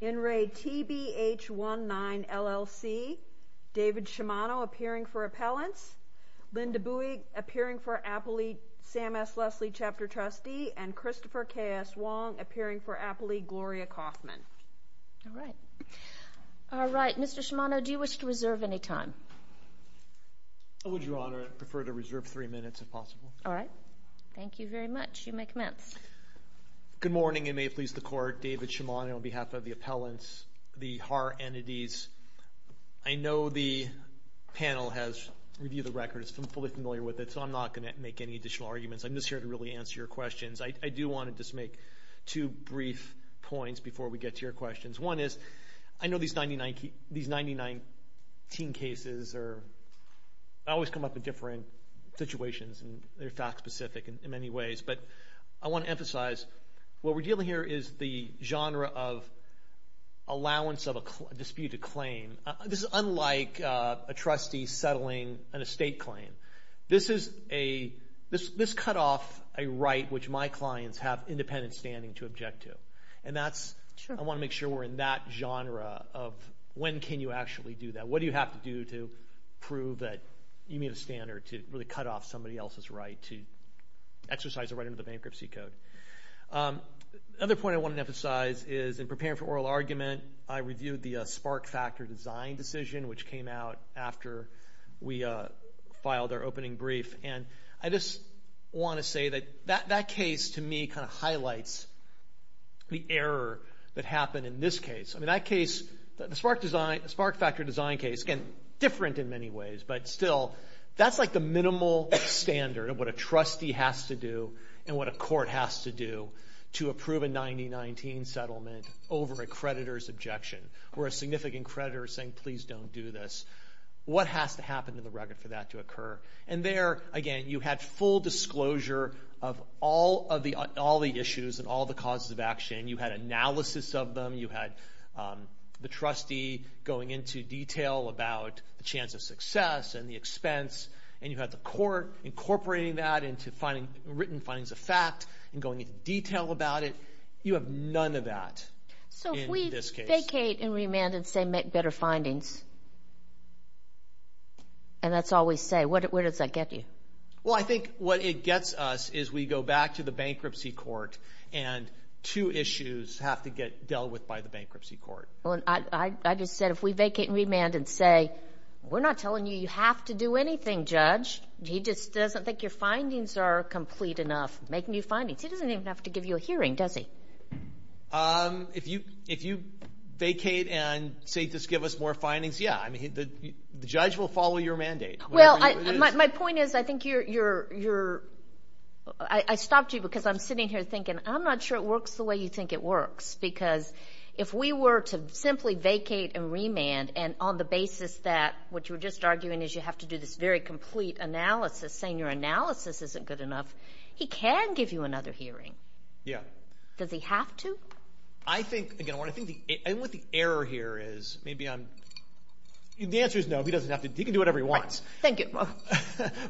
In re. TBH19, LLC, David Shimano appearing for appellants, Linda Buie appearing for Appley Sam S. Leslie chapter trustee, and Christopher K.S. Wong appearing for Appley Gloria Kaufman. All right. Mr. Shimano, do you wish to reserve any time? I would, Your Honor, prefer to reserve three minutes if possible. All right. Thank you very much. You may commence. Good morning and may it please the Court. David Shimano on behalf of the appellants, the H.A.R. entities. I know the panel has reviewed the record, is fully familiar with it, so I'm not going to make any additional arguments. I'm just here to really answer your questions. I do want to just make two brief points before we get to your questions. One is, I know these 99, these 99 teen cases are, always come up in different situations and they're fact-specific in many ways, but I want to make sure we're in that genre of when can you actually do that? What do you have to do to prove that you meet a standard to really cut off somebody else's right to exercise a right under the bankruptcy code? Another point I want to emphasize is in preparing for oral argument, I reviewed the spark factor design decision which came out after we filed our opening brief and I just want to say that that case to me kind of highlights the error that happened in this case. I mean that case, the spark design, the spark factor design case, again, different in many ways, but still that's like the minimal standard of what a trustee has to do and what a court has to do to approve a 90-19 settlement over a creditor's objection, where a significant creditor is saying please don't do this. What has to happen to the record for that to occur? And there, again, you had full disclosure of all of the, all the issues and all the causes of action. You had analysis of them, you had the trustee going into detail about the chance of success and the expense, and you had the court incorporating that into finding written findings of fact and going into detail about it. You have none of that. So if we vacate and remand and say make better findings, and that's all we say, what does that get you? Well, I think what it gets us is we go back to the bankruptcy court and two issues have to get dealt with by the bankruptcy court. Well, I just said if we vacate and remand and say we're not telling you you have to do anything, judge. He just doesn't think your findings are complete enough. Make new findings. He doesn't even have to give you a hearing, does he? If you, if you vacate and say just give us more findings, yeah. I mean, the judge will follow your mandate. Well, my point is I think you're, you're, you're, I stopped you because I'm sitting here thinking I'm not sure it works the way you think it works, because if we were to simply vacate and remand and on the basis that what you were just arguing is you have to do this very complete analysis, saying your analysis isn't good enough, he can give you another hearing. Yeah. Does he have to? I think, again, what I think the, and what the error here is, maybe I'm, the answer is no, he doesn't have to, he can do whatever he wants. Thank you.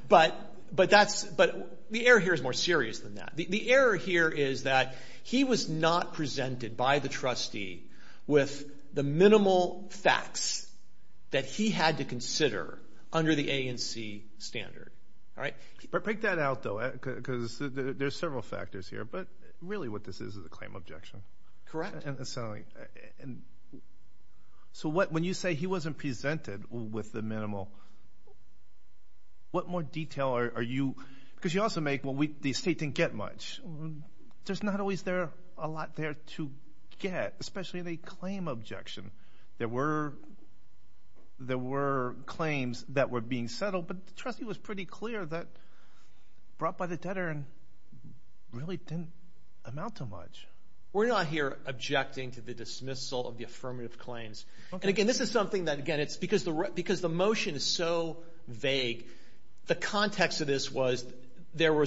But, but that's, but the error here is more that he was not presented by the trustee with the minimal facts that he had to consider under the A&C standard, all right? But break that out, though, because there's several factors here, but really what this is is a claim objection. Correct. And, and so what, when you say he wasn't presented with the minimal, what more detail are you, because you also make, well, we, the state didn't get much. There's not always there, a lot there to get, especially the claim objection. There were, there were claims that were being settled, but the trustee was pretty clear that brought by the debtor really didn't amount to much. We're not here objecting to the dismissal of the affirmative claims. Okay. And again, this is something that, again, it's because the, because the motion is so vague, the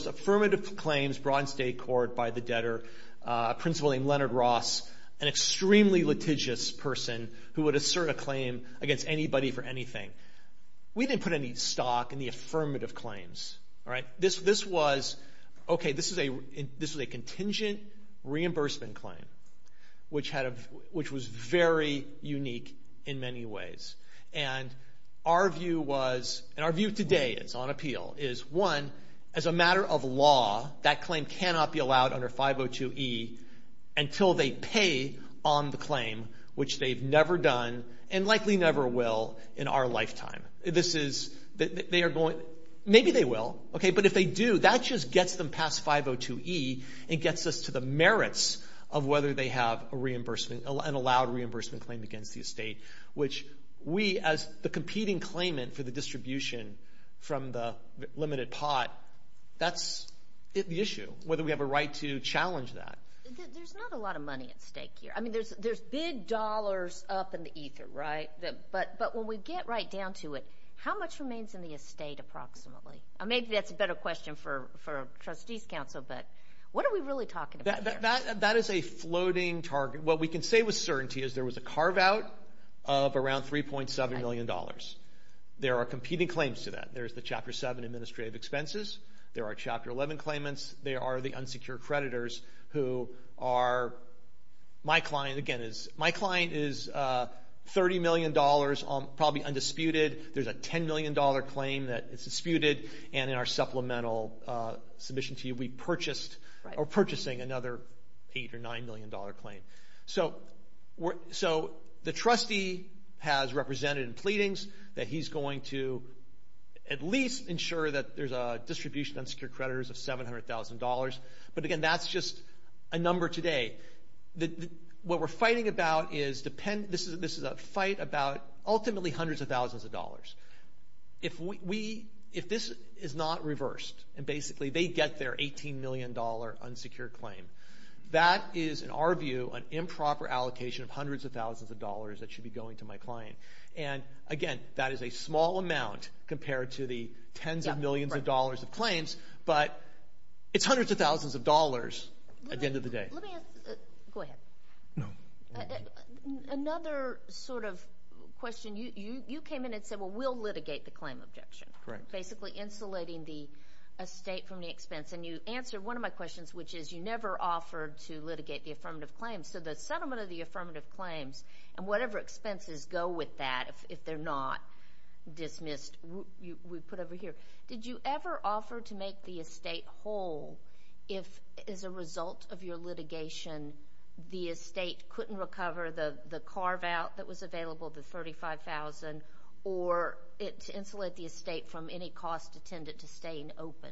affirmative claims brought in state court by the debtor, a principal named Leonard Ross, an extremely litigious person who would assert a claim against anybody for anything. We didn't put any stock in the affirmative claims, all right? This, this was, okay, this is a, this was a contingent reimbursement claim, which had a, which was very unique in many ways. And our view was, and our measure of law, that claim cannot be allowed under 502E until they pay on the claim, which they've never done and likely never will in our lifetime. This is, they are going, maybe they will, okay, but if they do, that just gets them past 502E and gets us to the merits of whether they have a reimbursement, an allowed reimbursement claim against the estate, which we, as the competing claimant for the distribution from the limited pot, that's the issue, whether we have a right to challenge that. There's not a lot of money at stake here. I mean, there's, there's big dollars up in the ether, right? But, but when we get right down to it, how much remains in the estate approximately? Maybe that's a better question for, for trustees council, but what are we really talking about? That, that, that is a floating target. What we can say with certainty is there was a carve out of around 3.7 million dollars. There are competing claims to that. There's the Chapter 7 administrative expenses. There are Chapter 11 claimants. There are the unsecured creditors who are, my client, again, is, my client is 30 million dollars on, probably undisputed. There's a 10 million dollar claim that is disputed, and in our supplemental submission to you, we So, the trustee has represented in pleadings that he's going to at least ensure that there's a distribution of unsecured creditors of $700,000. But again, that's just a number today. The, the, what we're fighting about is depend, this is, this is a fight about ultimately hundreds of thousands of dollars. If we, we, if this is not reversed, and basically they get their 18 million dollar unsecured claim, that is, in our view, an improper allocation of hundreds of thousands of dollars that should be going to my client. And again, that is a small amount compared to the tens of millions of dollars of claims, but it's hundreds of thousands of dollars at the end of the day. Let me ask, go ahead. No. Another sort of question. You, you, you came in and said, well, we'll litigate the claim objection. Correct. Basically insulating the estate from the expense. And you answered one of my questions. You offered to litigate the affirmative claims. So the settlement of the affirmative claims, and whatever expenses go with that, if, if they're not dismissed, we, we put over here. Did you ever offer to make the estate whole if, as a result of your litigation, the estate couldn't recover the, the carve-out that was available, the $35,000, or it, to insulate the estate from any cost attendant to stay open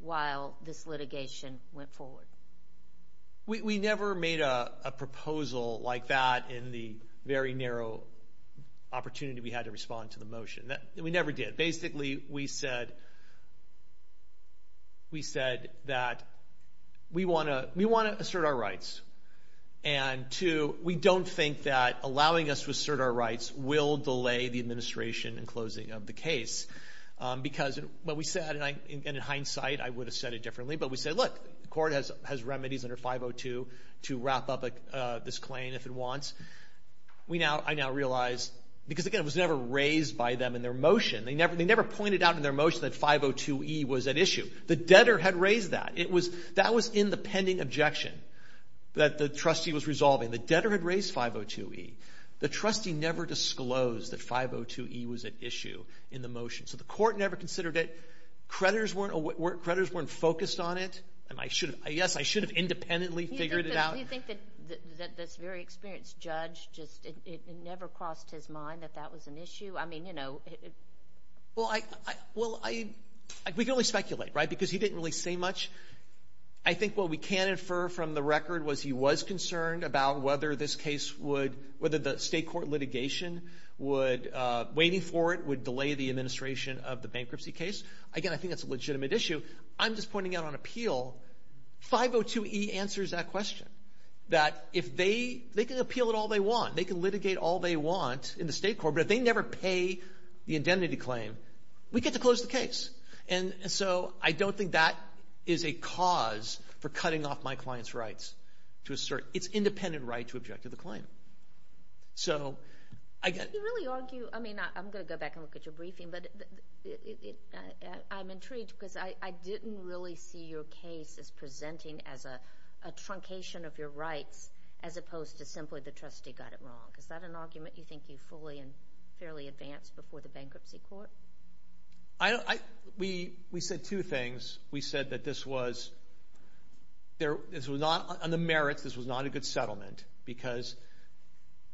while this litigation went forward? We, we never made a proposal like that in the very narrow opportunity we had to respond to the motion. That, we never did. Basically, we said, we said that we want to, we want to assert our rights. And to, we don't think that allowing us to assert our rights will delay the administration and closing of the case. Because what we said, and I, and in hindsight, I would have said it differently, but we said, look, the court has, has remedies under 502 to wrap up this claim if it wants. We now, I now realize, because again, it was never raised by them in their motion. They never, they never pointed out in their motion that 502e was at issue. The debtor had raised that. It was, that was in the pending objection that the trustee was never disclosed that 502e was at issue in the motion. So, the court never considered it. Creditors weren't, creditors weren't focused on it. And I should have, yes, I should have independently figured it out. Do you think that this very experienced judge just, it never crossed his mind that that was an issue? I mean, you know. Well, I, well, I, we can only speculate, right? Because he didn't really say much. I think what we can infer from the record was he was concerned about whether this case would, whether the state court litigation would, waiting for it would delay the administration of the bankruptcy case. Again, I think it's a legitimate issue. I'm just pointing out on appeal, 502e answers that question. That if they, they can appeal it all they want. They can litigate all they want in the state court, but if they never pay the indemnity claim, we get to close the case. And so, I don't think that is a cause for cutting off my client's rights to assert its independent right to object to the claim. So, I get. You really argue, I mean, I'm going to go back and look at your briefing, but I'm intrigued because I didn't really see your case as presenting as a truncation of your rights as opposed to simply the trustee got it wrong. Is that an argument you think you fully and fairly advanced before the bankruptcy court? I don't, I, we, we said two things. We said that this was, there, this was not on the merits, this was not a good settlement because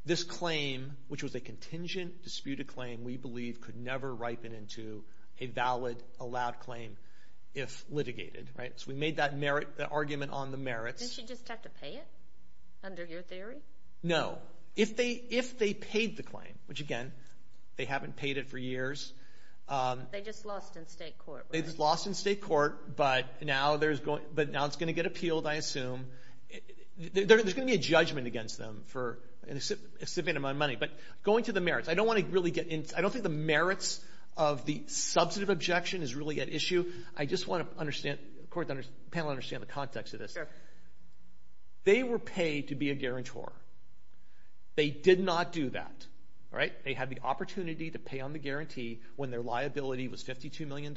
this claim, which was a contingent disputed claim, we believe could never ripen into a valid allowed claim if litigated, right? So, we made that merit, that argument on the merits. Didn't she just have to pay it under your theory? No. If they, if they paid the They just lost in state court, right? They just lost in state court, but now there's going, but now it's going to get appealed, I assume. There's going to be a judgment against them for, in exception of my money. But, going to the merits, I don't want to really get into, I don't think the merits of the substantive objection is really at issue. I just want to understand, of course, the panel understand the context of this. Sure. They were paid to be a guarantor. They did not do that, right? They had the opportunity to pay on the guarantee when their liability was $52 million.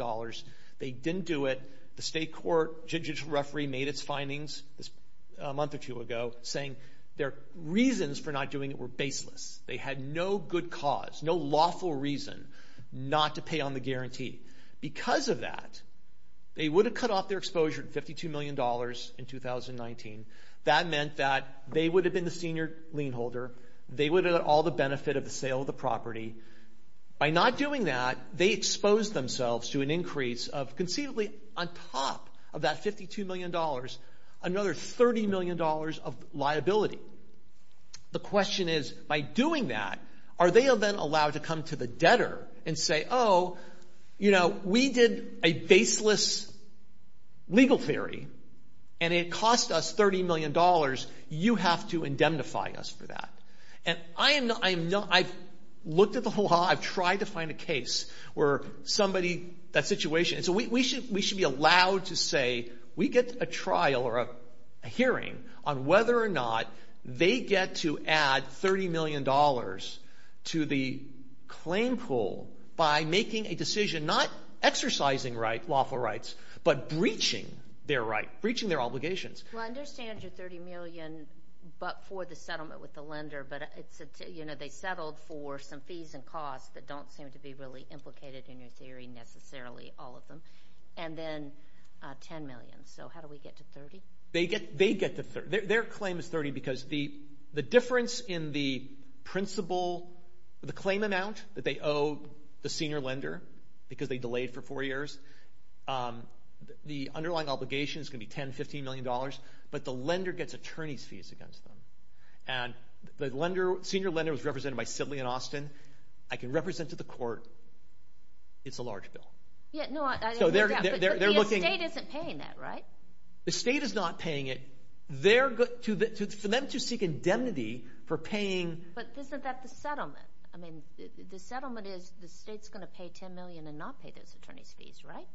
They didn't do it. The state court judicial referee made its findings this month or two ago, saying their reasons for not doing it were baseless. They had no good cause, no lawful reason not to pay on the guarantee. Because of that, they would have cut off their exposure to $52 million in 2019. That meant that they would have been the senior lien holder. They would have had all the benefit of the sale of the property. By not doing that, they exposed themselves to an increase of, conceivably, on top of that $52 million, another $30 million of liability. The question is, by doing that, are they then allowed to come to the debtor and say, oh, you know, we did a baseless legal theory and it cost us $30 million. You have to indemnify us for that. I've looked at the whole lot. I've tried to find a case where somebody, that situation. We should be allowed to say, we get a trial or a hearing on whether or not they get to add $30 million to the claim pool by making a decision, not exercising lawful rights, but breaching their right, breaching their obligations. Well, I understand your $30 million, but for the settlement with the lender, but it's, you know, they settled for some fees and costs that don't seem to be really implicated in your theory, necessarily, all of them. And then $10 million. So how do we get to $30? They get to, their claim is $30 because the difference in the principle, the claim amount that they owe the senior lender, because they delayed for four million dollars, but the lender gets attorney's fees against them. And the lender, senior lender was represented by Sibley and Austin. I can represent to the court. It's a large bill. Yeah, no, I, I, So they're, they're, they're looking. But the estate isn't paying that, right? The state is not paying it. They're, for them to seek indemnity for paying. But isn't that the settlement? I mean, the settlement is the state's going to pay $10 million and not pay those attorney's fees, right?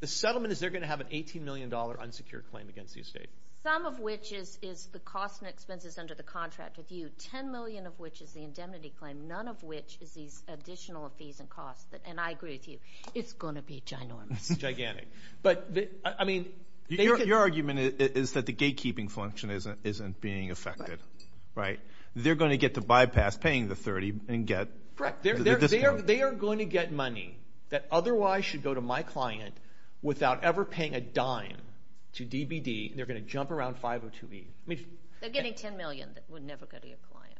The settlement is they're going to have an $18 million unsecured claim against the estate. Some of which is, is the cost and expenses under the contract with you, $10 million of which is the indemnity claim, none of which is these additional fees and costs that, and I agree with you, it's going to be ginormous. Gigantic. But the, I mean, Your, your argument is that the gatekeeping function isn't, isn't being affected, right? They're going to get to bypass paying the $30 and get Correct. They're, they're, they are, they are going to get money that otherwise should go to my client without ever paying a dime to DBD. They're going to jump around 502E. I mean, They're getting $10 million that would never go to your client.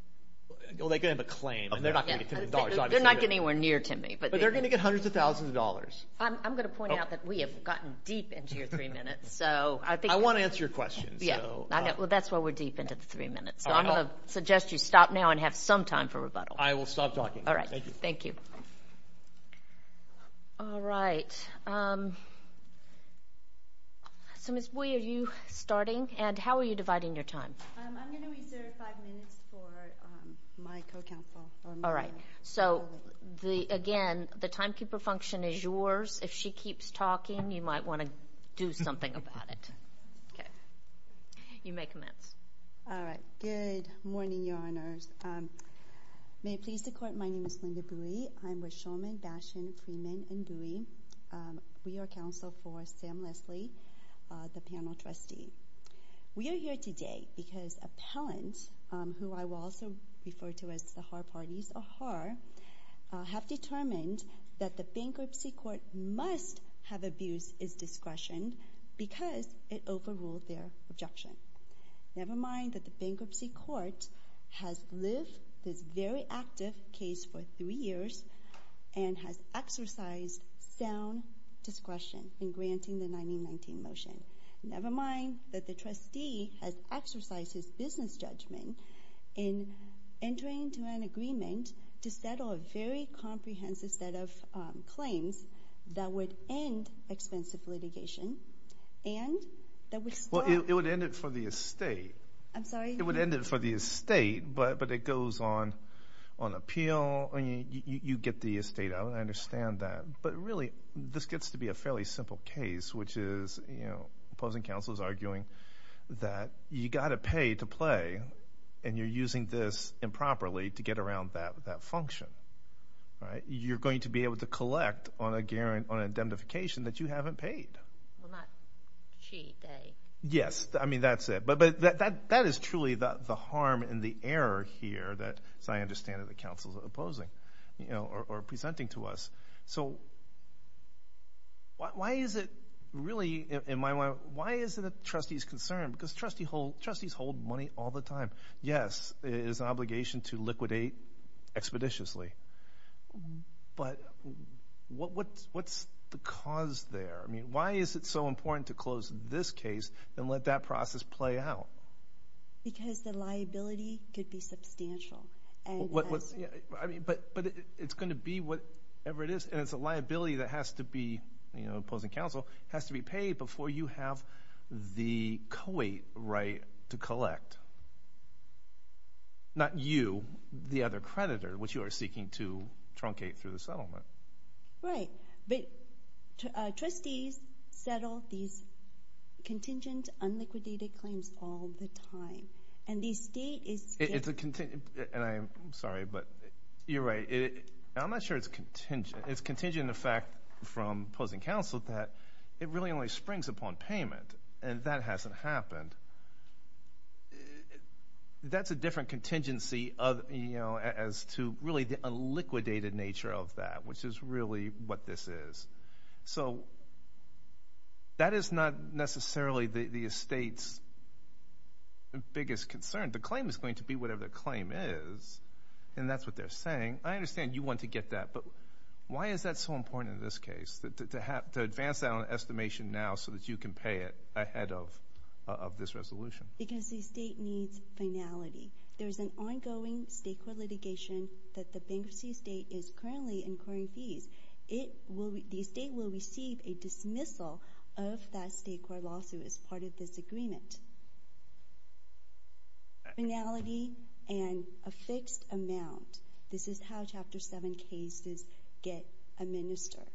Well, they could have a claim and they're not going to get $10 million. They're not getting anywhere near to me, but But they're going to get hundreds of thousands of dollars. I'm going to point out that we have gotten deep into your three minutes. So I think I want to answer your question. Yeah. Well, that's why we're deep into the three minutes. So I'm going to suggest you stop now and have some time for rebuttal. I will stop talking. All right. Thank you. Thank you. All right. So, Ms. Bui, are you starting and how are you dividing your time? I'm going to reserve five minutes for my co-counsel. All right. So the, again, the timekeeper function is yours. If she keeps talking, you might want to do something about it. Okay. You may commence. All right. Good morning, Your Honors. May it please the court. My name is Linda Bui. I'm with Shulman, Bashan, Freeman and Bui. We are counsel for Sam Leslie, the panel trustee. We are here today because appellant, who I will also refer to as the Haar Party's a Haar, have determined that the bankruptcy court must have abused its discretion because it overruled their objection. Never mind that the bankruptcy court has lived this very active case for three years and has exercised sound discretion in granting the 1919 motion. Never mind that the trustee has exercised his business judgment in entering into an agreement to settle a very comprehensive set of claims that would end expensive litigation. And that would stop. Well, it would end it for the estate. I'm sorry? It would end it for the estate, but it goes on appeal. I mean, you get the estate. I understand that. But really, this gets to be a fairly simple case, which is, you know, opposing counsel is arguing that you got to pay to play and you're using this improperly to get around that function, right? You're going to be able to collect on a guarantee, on indemnification that you haven't paid. Well, not she, they. Yes. I mean, that's it. But that is truly the harm and the error here that, as I understand it, the counsel's opposing, you know, or presenting to us. So why is it really, in my mind, why is it a trustee's concern? Because trustees hold money all the time. Yes, it is an obligation to liquidate expeditiously. But what's the cause there? I mean, why is it so important to close this case and let that process play out? Because the liability could be substantial. But it's going to be whatever it is, and it's a liability that has to be, you know, opposing counsel has to be paid before you have the co-aid right to collect. Not you, the other creditor, which you are seeking to truncate through the settlement. Right. But trustees settle these contingent, unliquidated claims all the time. And the state is. It's a contingent, and I'm sorry, but you're right. I'm not sure it's contingent. It's contingent in the fact from opposing counsel that it really only springs upon payment, and that hasn't happened. That's a different contingency of, you know, as to really the unliquidated nature of that, which is really what this is. So that is not necessarily the state's biggest concern. The claim is going to be whatever the claim is, and that's what they're saying. I understand you want to get that, but why is that so important in this case, to advance that on an estimation now so that you can pay it ahead of this resolution? Because the state needs finality. There's an ongoing state court litigation that the bankruptcy state is currently incurring fees. It will be, the state will receive a dismissal of that state court lawsuit as part of this agreement. Finality and a fixed amount. This is how Chapter 7 cases get administered.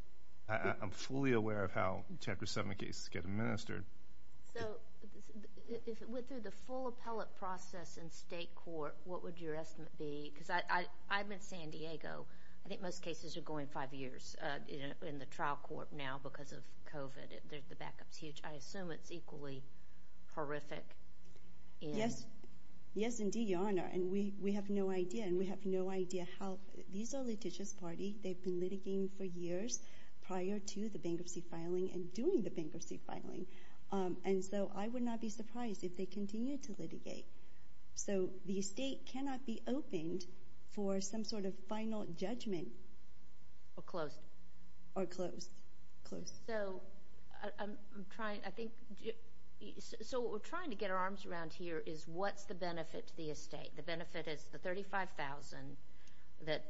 I'm fully aware of how Chapter 7 cases get administered. So, if it went through the full appellate process in state court, what would your estimate be? Because I'm in San Diego. I think most cases are going five years in the trial court now because of COVID, the backup's huge. I assume it's equally horrific. Yes. Yes, indeed, Your Honor. And we have no idea. And we have no idea how. These are litigious parties. They've been litigating for years prior to the bankruptcy filing and during the bankruptcy filing. And so I would not be surprised if they continue to litigate. So, the estate cannot be opened for some sort of final judgment. Or closed. Or closed. Closed. So, I'm trying, I think, so what we're trying to get our arms around here is what's the benefit to the estate? The benefit is the $35,000 that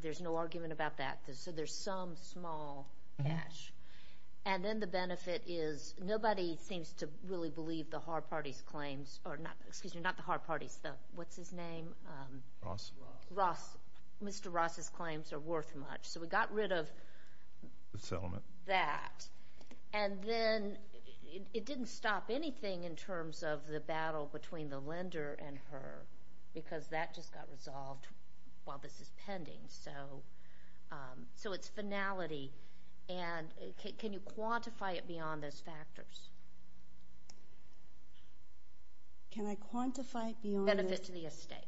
there's no argument about that. So, there's some small cash. And then the benefit is nobody seems to really believe the Haar Party's claims, or not, excuse me, not the Haar Party's, the, what's his name? Ross. Ross. Mr. Ross's claims are worth much. So, we got rid of that. And then it didn't stop anything in terms of the battle between the lender and her because that just got resolved while this is pending. So, so it's finality. And can you quantify it beyond those factors? Can I quantify it beyond the... Benefit to the estate.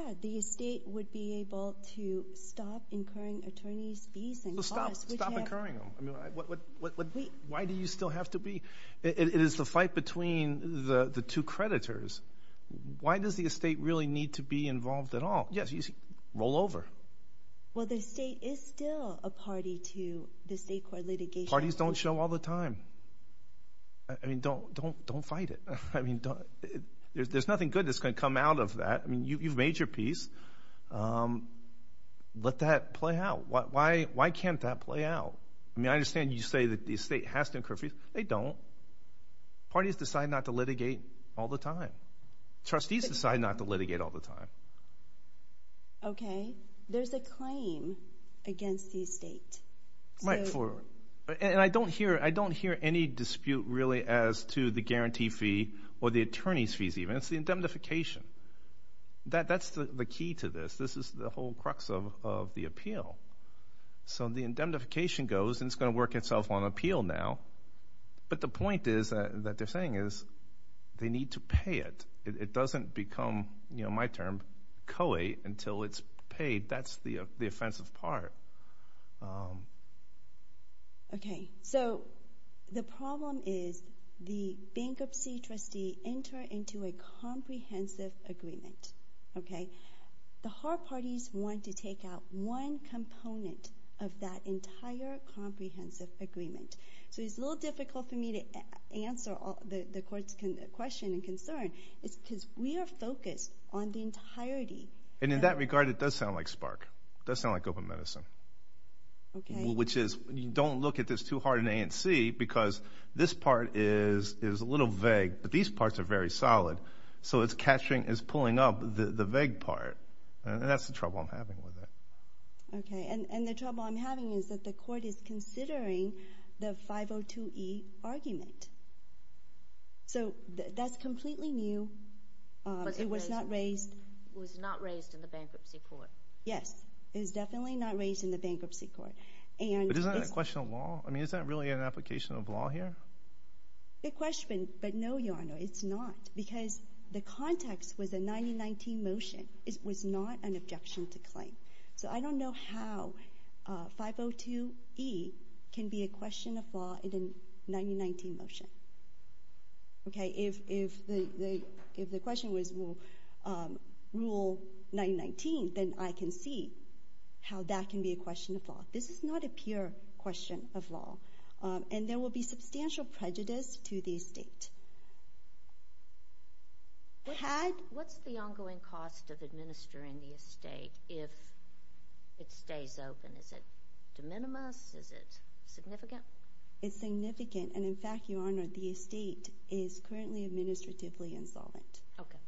Yeah, the estate would be able to stop incurring attorney's fees and costs. Stop, stop incurring them. I mean, why do you still have to be, it is the fight between the two creditors. Why does the estate really need to be involved at all? Yes, you see, roll over. Well, the state is still a party to the state court litigation. Parties don't show all the time. I mean, don't, don't, don't fight it. I mean, don't, there's nothing good that's going to come out of that. I mean, you've made your peace. Let that play out. Why, why, why can't that play out? I mean, I understand you say that the estate has to incur fees. They don't. Parties decide not to litigate all the time. Trustees decide not to litigate all the time. Okay. There's a claim against the estate. Right, for, and I don't hear, I don't hear any dispute really as to the guarantee fee or the attorney's fees even. It's the indemnification. That, that's the key to this. This is the whole crux of, of the appeal. So the indemnification goes and it's going to work itself on appeal now. But the point is that, that they're saying is they need to pay it. It doesn't become, you know, my term, COE until it's paid. That's the offensive part. Okay. So the problem is the bankruptcy trustee enter into a comprehensive agreement. Okay. The hard parties want to take out one component of that entire comprehensive agreement. So it's a little difficult for me to answer all, the court's question and concern. It's because we are focused on the entirety. And in that regard, it does sound like SPARC. It does sound like Open Medicine. Okay. Which is, you don't look at this too hard in A and C because this part is, is a little vague, but these parts are very solid. So it's catching, it's pulling up the vague part. And that's the trouble I'm having with it. Okay. And, and the trouble I'm having is that the court is considering the 502E argument. So that's completely new. It was not raised. It was not raised in the bankruptcy court. Yes. It was definitely not raised in the bankruptcy court. And it's... But isn't that a question of law? I mean, is that really an application of law here? The question, but no, Your Honor, it's not. Because the context was a 9019 motion. It was not an objection to claim. So I don't know how 502E can be a question of law in a 9019 motion. Okay. If the question was rule 9019, then I can see how that can be a question of law. This is not a pure question of law. And there will be substantial prejudice to the estate. What's the ongoing cost of administering the estate if it stays open? Is it de minimis? Is it significant? It's significant. And, in fact, Your Honor, the estate is currently administratively insolvent. Okay.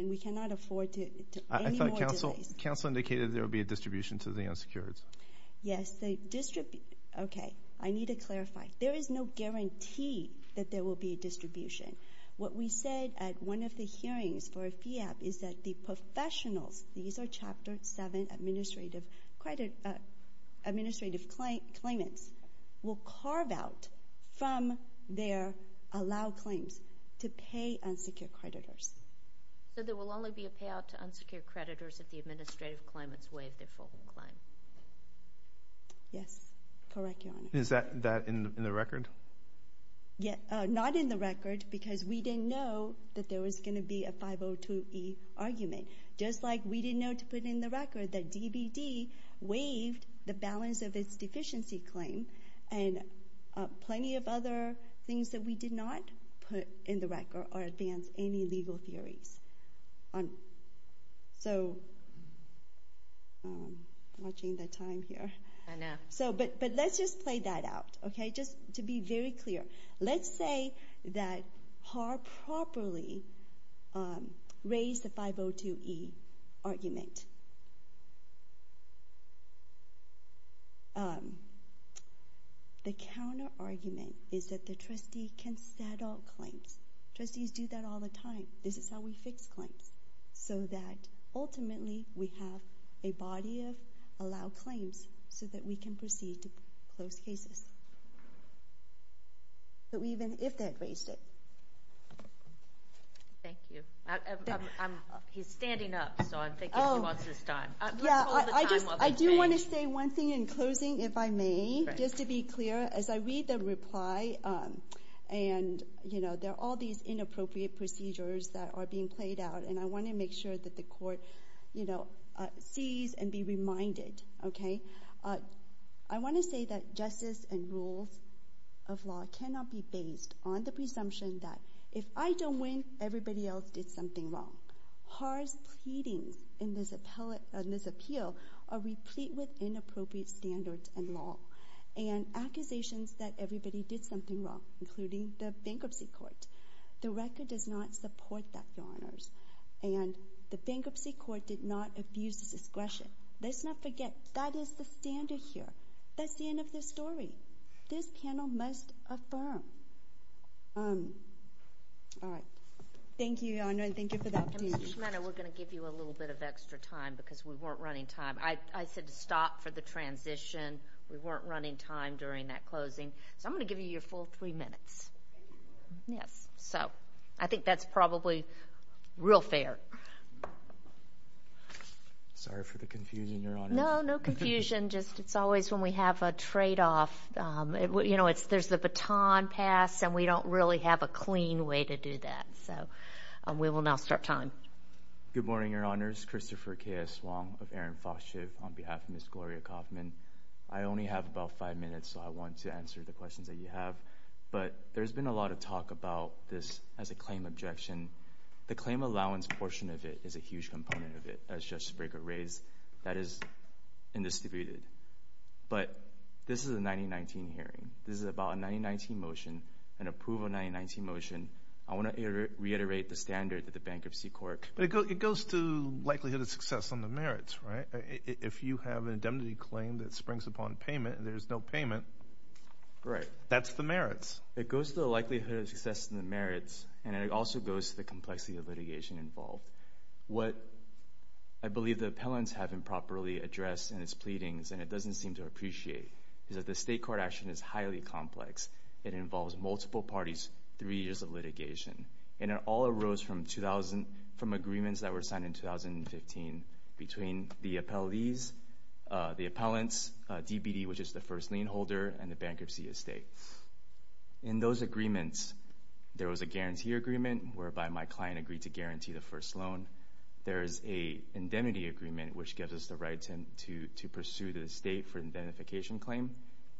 And we cannot afford any more delays. I thought counsel indicated there would be a distribution to the unsecured. Yes. Okay. I need to clarify. There is no guarantee that there will be a distribution. What we said at one of the hearings for FIAP is that the professionals, these are Chapter 7 administrative claimants, will carve out from their allowed claims to pay unsecured creditors. So there will only be a payout to unsecured creditors if the administrative claimants waive their full claim? Yes. Correct, Your Honor. Is that in the record? Not in the record because we didn't know that there was going to be a 502E argument. Just like we didn't know to put in the record that DBD waived the balance of its deficiency claim and plenty of other things that we did not put in the record or advance any legal theories. So I'm watching the time here. I know. But let's just play that out, okay, just to be very clear. Let's say that Haar properly raised the 502E argument. The counter-argument is that the trustee can settle claims. Trustees do that all the time. This is how we fix claims so that ultimately we have a body of allowed claims so that we can proceed to close cases, even if they had raised it. Thank you. He's standing up, so I'm thinking he wants his time. I do want to say one thing in closing, if I may, just to be clear. As I read the reply, there are all these inappropriate procedures that are being played out, and I want to make sure that the court sees and be reminded. I want to say that justice and rules of law cannot be based on the presumption that if I don't win, everybody else did something wrong. Haar's pleadings in this appeal are replete with inappropriate standards and law and accusations that everybody did something wrong, including the bankruptcy court. The record does not support that, Your Honors, and the bankruptcy court did not abuse its discretion. Let's not forget that is the standard here. That's the end of the story. This panel must affirm. All right. Thank you, Your Honor, and thank you for that. Ms. Schmider, we're going to give you a little bit of extra time because we weren't running time. I said to stop for the transition. We weren't running time during that closing. So I'm going to give you your full three minutes. Yes. So I think that's probably real fair. Sorry for the confusion, Your Honor. No, no confusion. It's always when we have a tradeoff. You know, there's the baton pass, and we don't really have a clean way to do that. So we will now start time. Good morning, Your Honors. Christopher K.S. Wong of Aaron Foster on behalf of Ms. Gloria Kaufman. I only have about five minutes, so I want to answer the questions that you have. But there's been a lot of talk about this as a claim objection. The claim allowance portion of it is a huge component of it. That's just to break a raise. That is indisputed. But this is a 1919 hearing. This is about a 1919 motion, an approval of a 1919 motion. I want to reiterate the standard that the Bankruptcy Court... But it goes to likelihood of success on the merits, right? If you have an indemnity claim that springs upon payment and there's no payment... Right. That's the merits. It goes to the likelihood of success in the merits, and it also goes to the complexity of litigation involved. What I believe the appellants have improperly addressed in its pleadings, and it doesn't seem to appreciate, is that the state court action is highly complex. It involves multiple parties, three years of litigation. And it all arose from agreements that were signed in 2015 between the appellees, the appellants, DBD, which is the first lien holder, and the bankruptcy estate. In those agreements, there was a guarantee agreement, whereby my client agreed to guarantee the first loan. There is a indemnity agreement, which gives us the right to pursue the estate for an indemnification claim.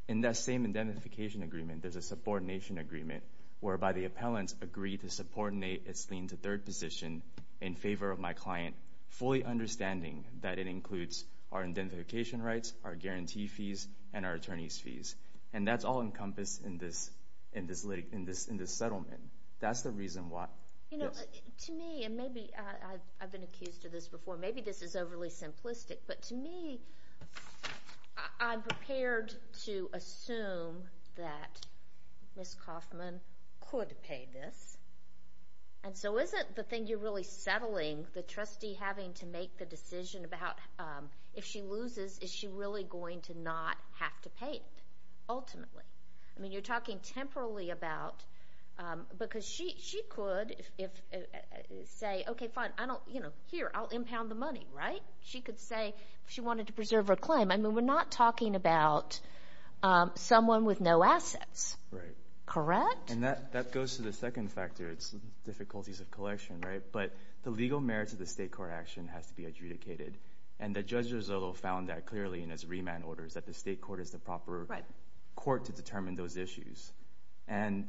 In that same indemnification agreement, there's a subordination agreement, whereby the appellants agree to subordinate its lien to third position in favor of my client, fully understanding that it includes our indemnification rights, our guarantee fees, and our attorney's fees. And that's all encompassed in this settlement. That's the reason why. To me, and maybe I've been accused of this before, maybe this is overly simplistic, but to me, I'm prepared to assume that Ms. Kaufman could pay this. And so isn't the thing you're really settling, the trustee having to make the decision about if she loses, is she really going to not have to pay it, ultimately? I mean, you're talking temporally about, because she could say, okay, fine, here, I'll impound the money, right? She could say if she wanted to preserve her claim. I mean, we're not talking about someone with no assets, correct? And that goes to the second factor. It's the difficulties of collection, right? But the legal merits of the state court action has to be adjudicated. And Judge Rizzolo found that clearly in his remand orders that the state court is the proper court to determine those issues. And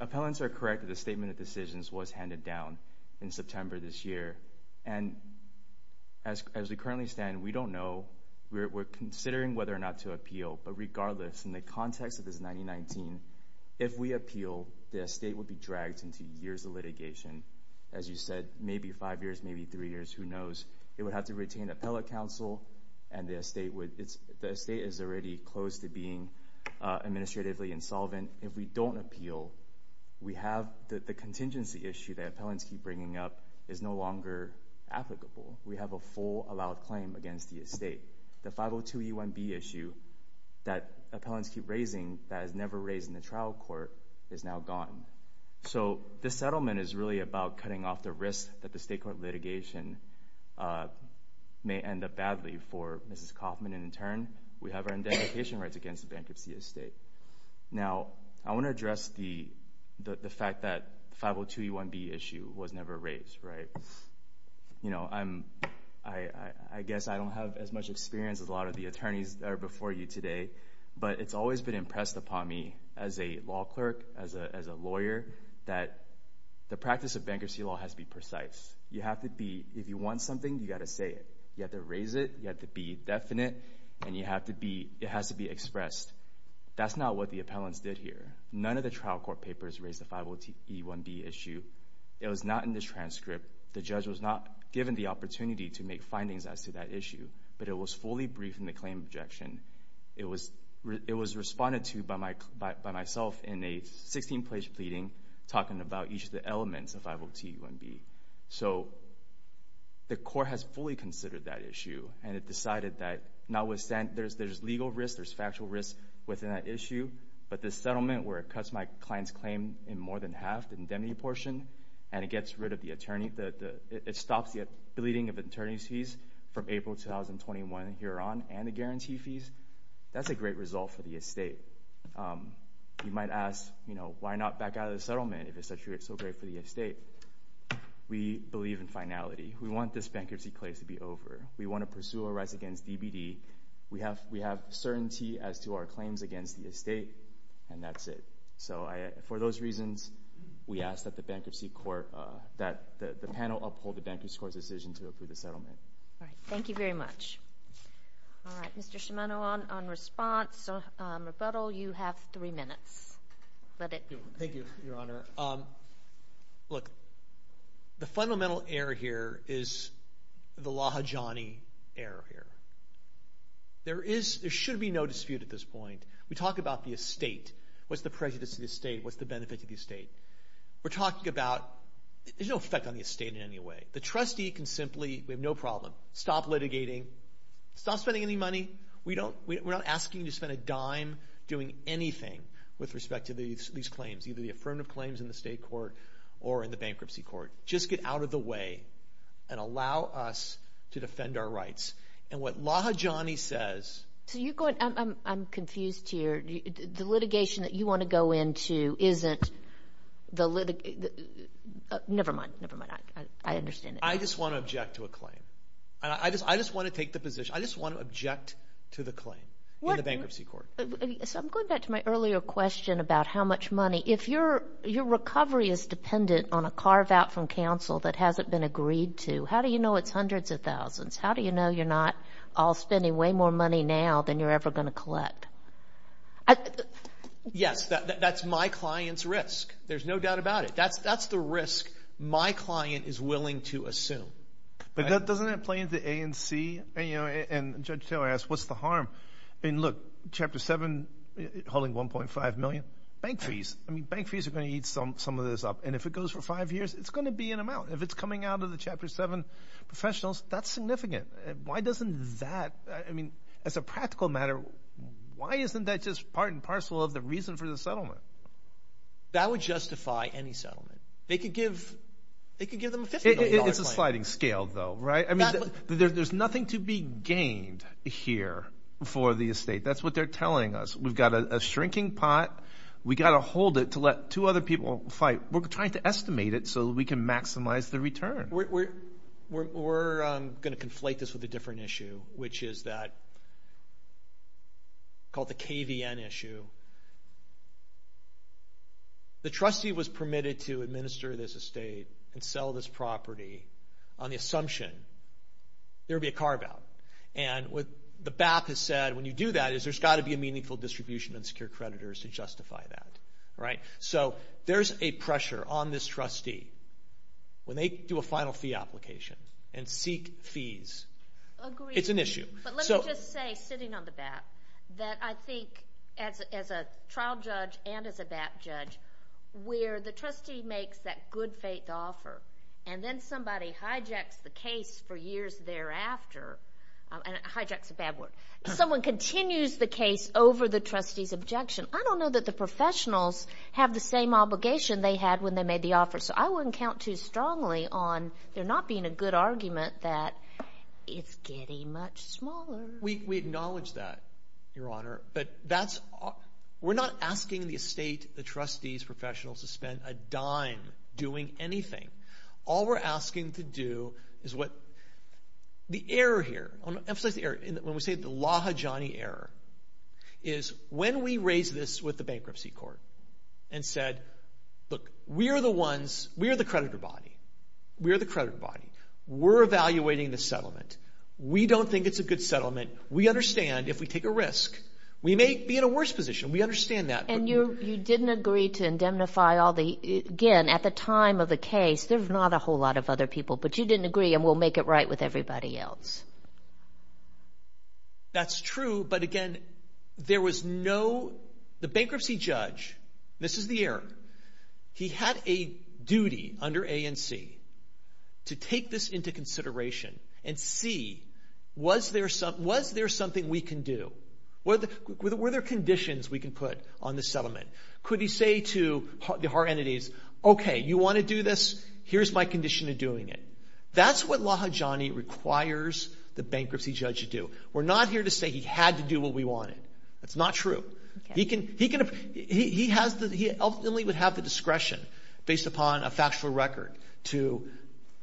appellants are correct that the statement of decisions was handed down in September this year. And as we currently stand, we don't know. We're considering whether or not to appeal. But regardless, in the context of this 1919, if we appeal, the estate would be dragged into years of litigation. As you said, maybe five years, maybe three years, who knows. It would have to retain appellate counsel, and the estate is already close to being administratively insolvent. If we don't appeal, we have the contingency issue that appellants keep bringing up is no longer applicable. We have a full allowed claim against the estate. The 502E1B issue that appellants keep raising that is never raised in the trial court is now gone. So this settlement is really about cutting off the risk that the state court litigation may end up badly for Mrs. Kaufman. And in turn, we have our indemnification rights against the bankruptcy estate. Now, I want to address the fact that the 502E1B issue was never raised. I guess I don't have as much experience as a lot of the attorneys that are before you today, but it's always been impressed upon me as a law clerk, as a lawyer, that the practice of bankruptcy law has to be precise. If you want something, you've got to say it. You have to raise it, you have to be definite, and it has to be expressed. That's not what the appellants did here. None of the trial court papers raised the 502E1B issue. It was not in this transcript. The judge was not given the opportunity to make findings as to that issue, but it was fully briefed in the claim objection. It was responded to by myself in a 16-page pleading talking about each of the elements of 502E1B. So the court has fully considered that issue, and it decided that there's legal risk, there's factual risk within that issue, but this settlement where it cuts my client's claim in more than half, the indemnity portion, and it gets rid of the attorney, it stops the deleting of attorney's fees from April 2021 and here on and the guarantee fees, that's a great result for the estate. You might ask, you know, why not back out of the settlement if it's so great for the estate? We believe in finality. We want this bankruptcy case to be over. We want to pursue our rights against DBD. We have certainty as to our claims against the estate, and that's it. So for those reasons, we ask that the panel uphold the bankruptcy court's decision to approve the settlement. All right. Thank you very much. All right. Mr. Shimano, on response, rebuttal, you have three minutes. Thank you, Your Honor. Look, the fundamental error here is the Lahajani error here. There should be no dispute at this point. We talk about the estate. What's the prejudice of the estate? What's the benefit of the estate? We're talking about there's no effect on the estate in any way. The trustee can simply, we have no problem, stop litigating, stop spending any money. We're not asking you to spend a dime doing anything with respect to these claims, either the affirmative claims in the state court or in the bankruptcy court. Just get out of the way and allow us to defend our rights. And what Lahajani says. I'm confused here. The litigation that you want to go into isn't the litigation. Never mind. I understand. I just want to object to a claim. I just want to take the position. I just want to object to the claim in the bankruptcy court. So I'm going back to my earlier question about how much money. If your recovery is dependent on a carve-out from counsel that hasn't been agreed to, how do you know it's hundreds of thousands? How do you know you're not all spending way more money now than you're ever going to collect? Yes, that's my client's risk. There's no doubt about it. That's the risk my client is willing to assume. But doesn't that play into A and C? And Judge Taylor asked, what's the harm? Look, Chapter 7 holding $1.5 million, bank fees. Bank fees are going to eat some of this up. And if it goes for five years, it's going to be an amount. If it's coming out of the Chapter 7 professionals, that's significant. Why doesn't that, I mean, as a practical matter, why isn't that just part and parcel of the reason for the settlement? That would justify any settlement. They could give them a $50 million claim. It's a sliding scale though, right? I mean, there's nothing to be gained here for the estate. That's what they're telling us. We've got a shrinking pot. We've got to hold it to let two other people fight. We're trying to estimate it so that we can maximize the return. We're going to conflate this with a different issue, which is called the KVN issue. The trustee was permitted to administer this estate and sell this property on the assumption there would be a carve-out. And what the BAP has said, when you do that, is there's got to be a meaningful distribution and secure creditors to justify that. So there's a pressure on this trustee. When they do a final fee application and seek fees, it's an issue. But let me just say, sitting on the BAP, that I think as a trial judge and as a BAP judge, where the trustee makes that good faith offer and then somebody hijacks the case for years thereafter, and hijacks is a bad word, someone continues the case over the trustee's objection, I don't know that the professionals have the same obligation they had when they made the offer. So I wouldn't count too strongly on there not being a good argument that it's getting much smaller. We acknowledge that, Your Honor, but we're not asking the estate, the trustees, professionals to spend a dime doing anything. All we're asking to do is what the error here, I want to emphasize the error, when we say the Laha Johnny error, is when we raise this with the bankruptcy court and said, look, we are the ones, we are the creditor body. We are the creditor body. We're evaluating the settlement. We don't think it's a good settlement. We understand if we take a risk, we may be in a worse position. We understand that. And you didn't agree to indemnify all the, again, at the time of the case, there's not a whole lot of other people, but you didn't agree and we'll make it right with everybody else. That's true, but again, there was no, the bankruptcy judge, this is the error, he had a duty under A and C to take this into consideration and see was there something we can do. Were there conditions we can put on this settlement? Could he say to our entities, okay, you want to do this? Here's my condition of doing it. That's what Laha Johnny requires the bankruptcy judge to do. We're not here to say he had to do what we wanted. That's not true. He can, he has, he ultimately would have the discretion based upon a factual record to.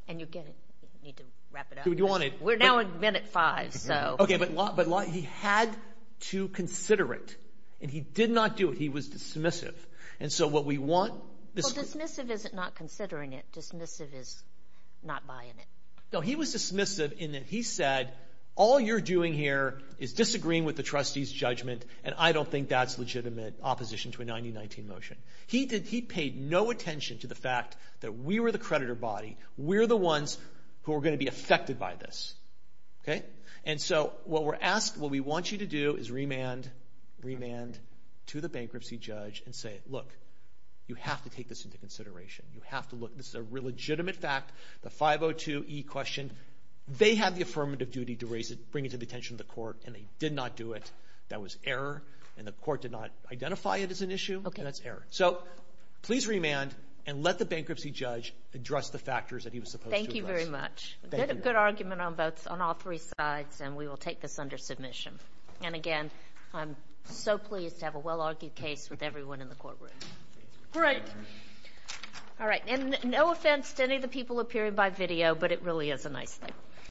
And you get it. You need to wrap it up. We're now at minute five, so. Okay, but Laha, he had to consider it and he did not do it. He was dismissive. And so what we want. Well, dismissive isn't not considering it. Dismissive is not buying it. No, he was dismissive in that he said, all you're doing here is disagreeing with the trustee's judgment and I don't think that's legitimate opposition to a 90-19 motion. He paid no attention to the fact that we were the creditor body. We're the ones who are going to be affected by this. Okay? And so what we're asked, what we want you to do is remand, remand to the bankruptcy judge and say, look, you have to take this into consideration. You have to look. This is a legitimate fact. The 502E question, they have the affirmative duty to raise it, bring it to the attention of the court, and they did not do it. That was error, and the court did not identify it as an issue. That's error. So please remand and let the bankruptcy judge address the factors that he was supposed to address. Thank you very much. Good argument on all three sides, and we will take this under submission. And again, I'm so pleased to have a well-argued case with everyone in the courtroom. Great. All right. And no offense to any of the people appearing by video, but it really is a nice thing.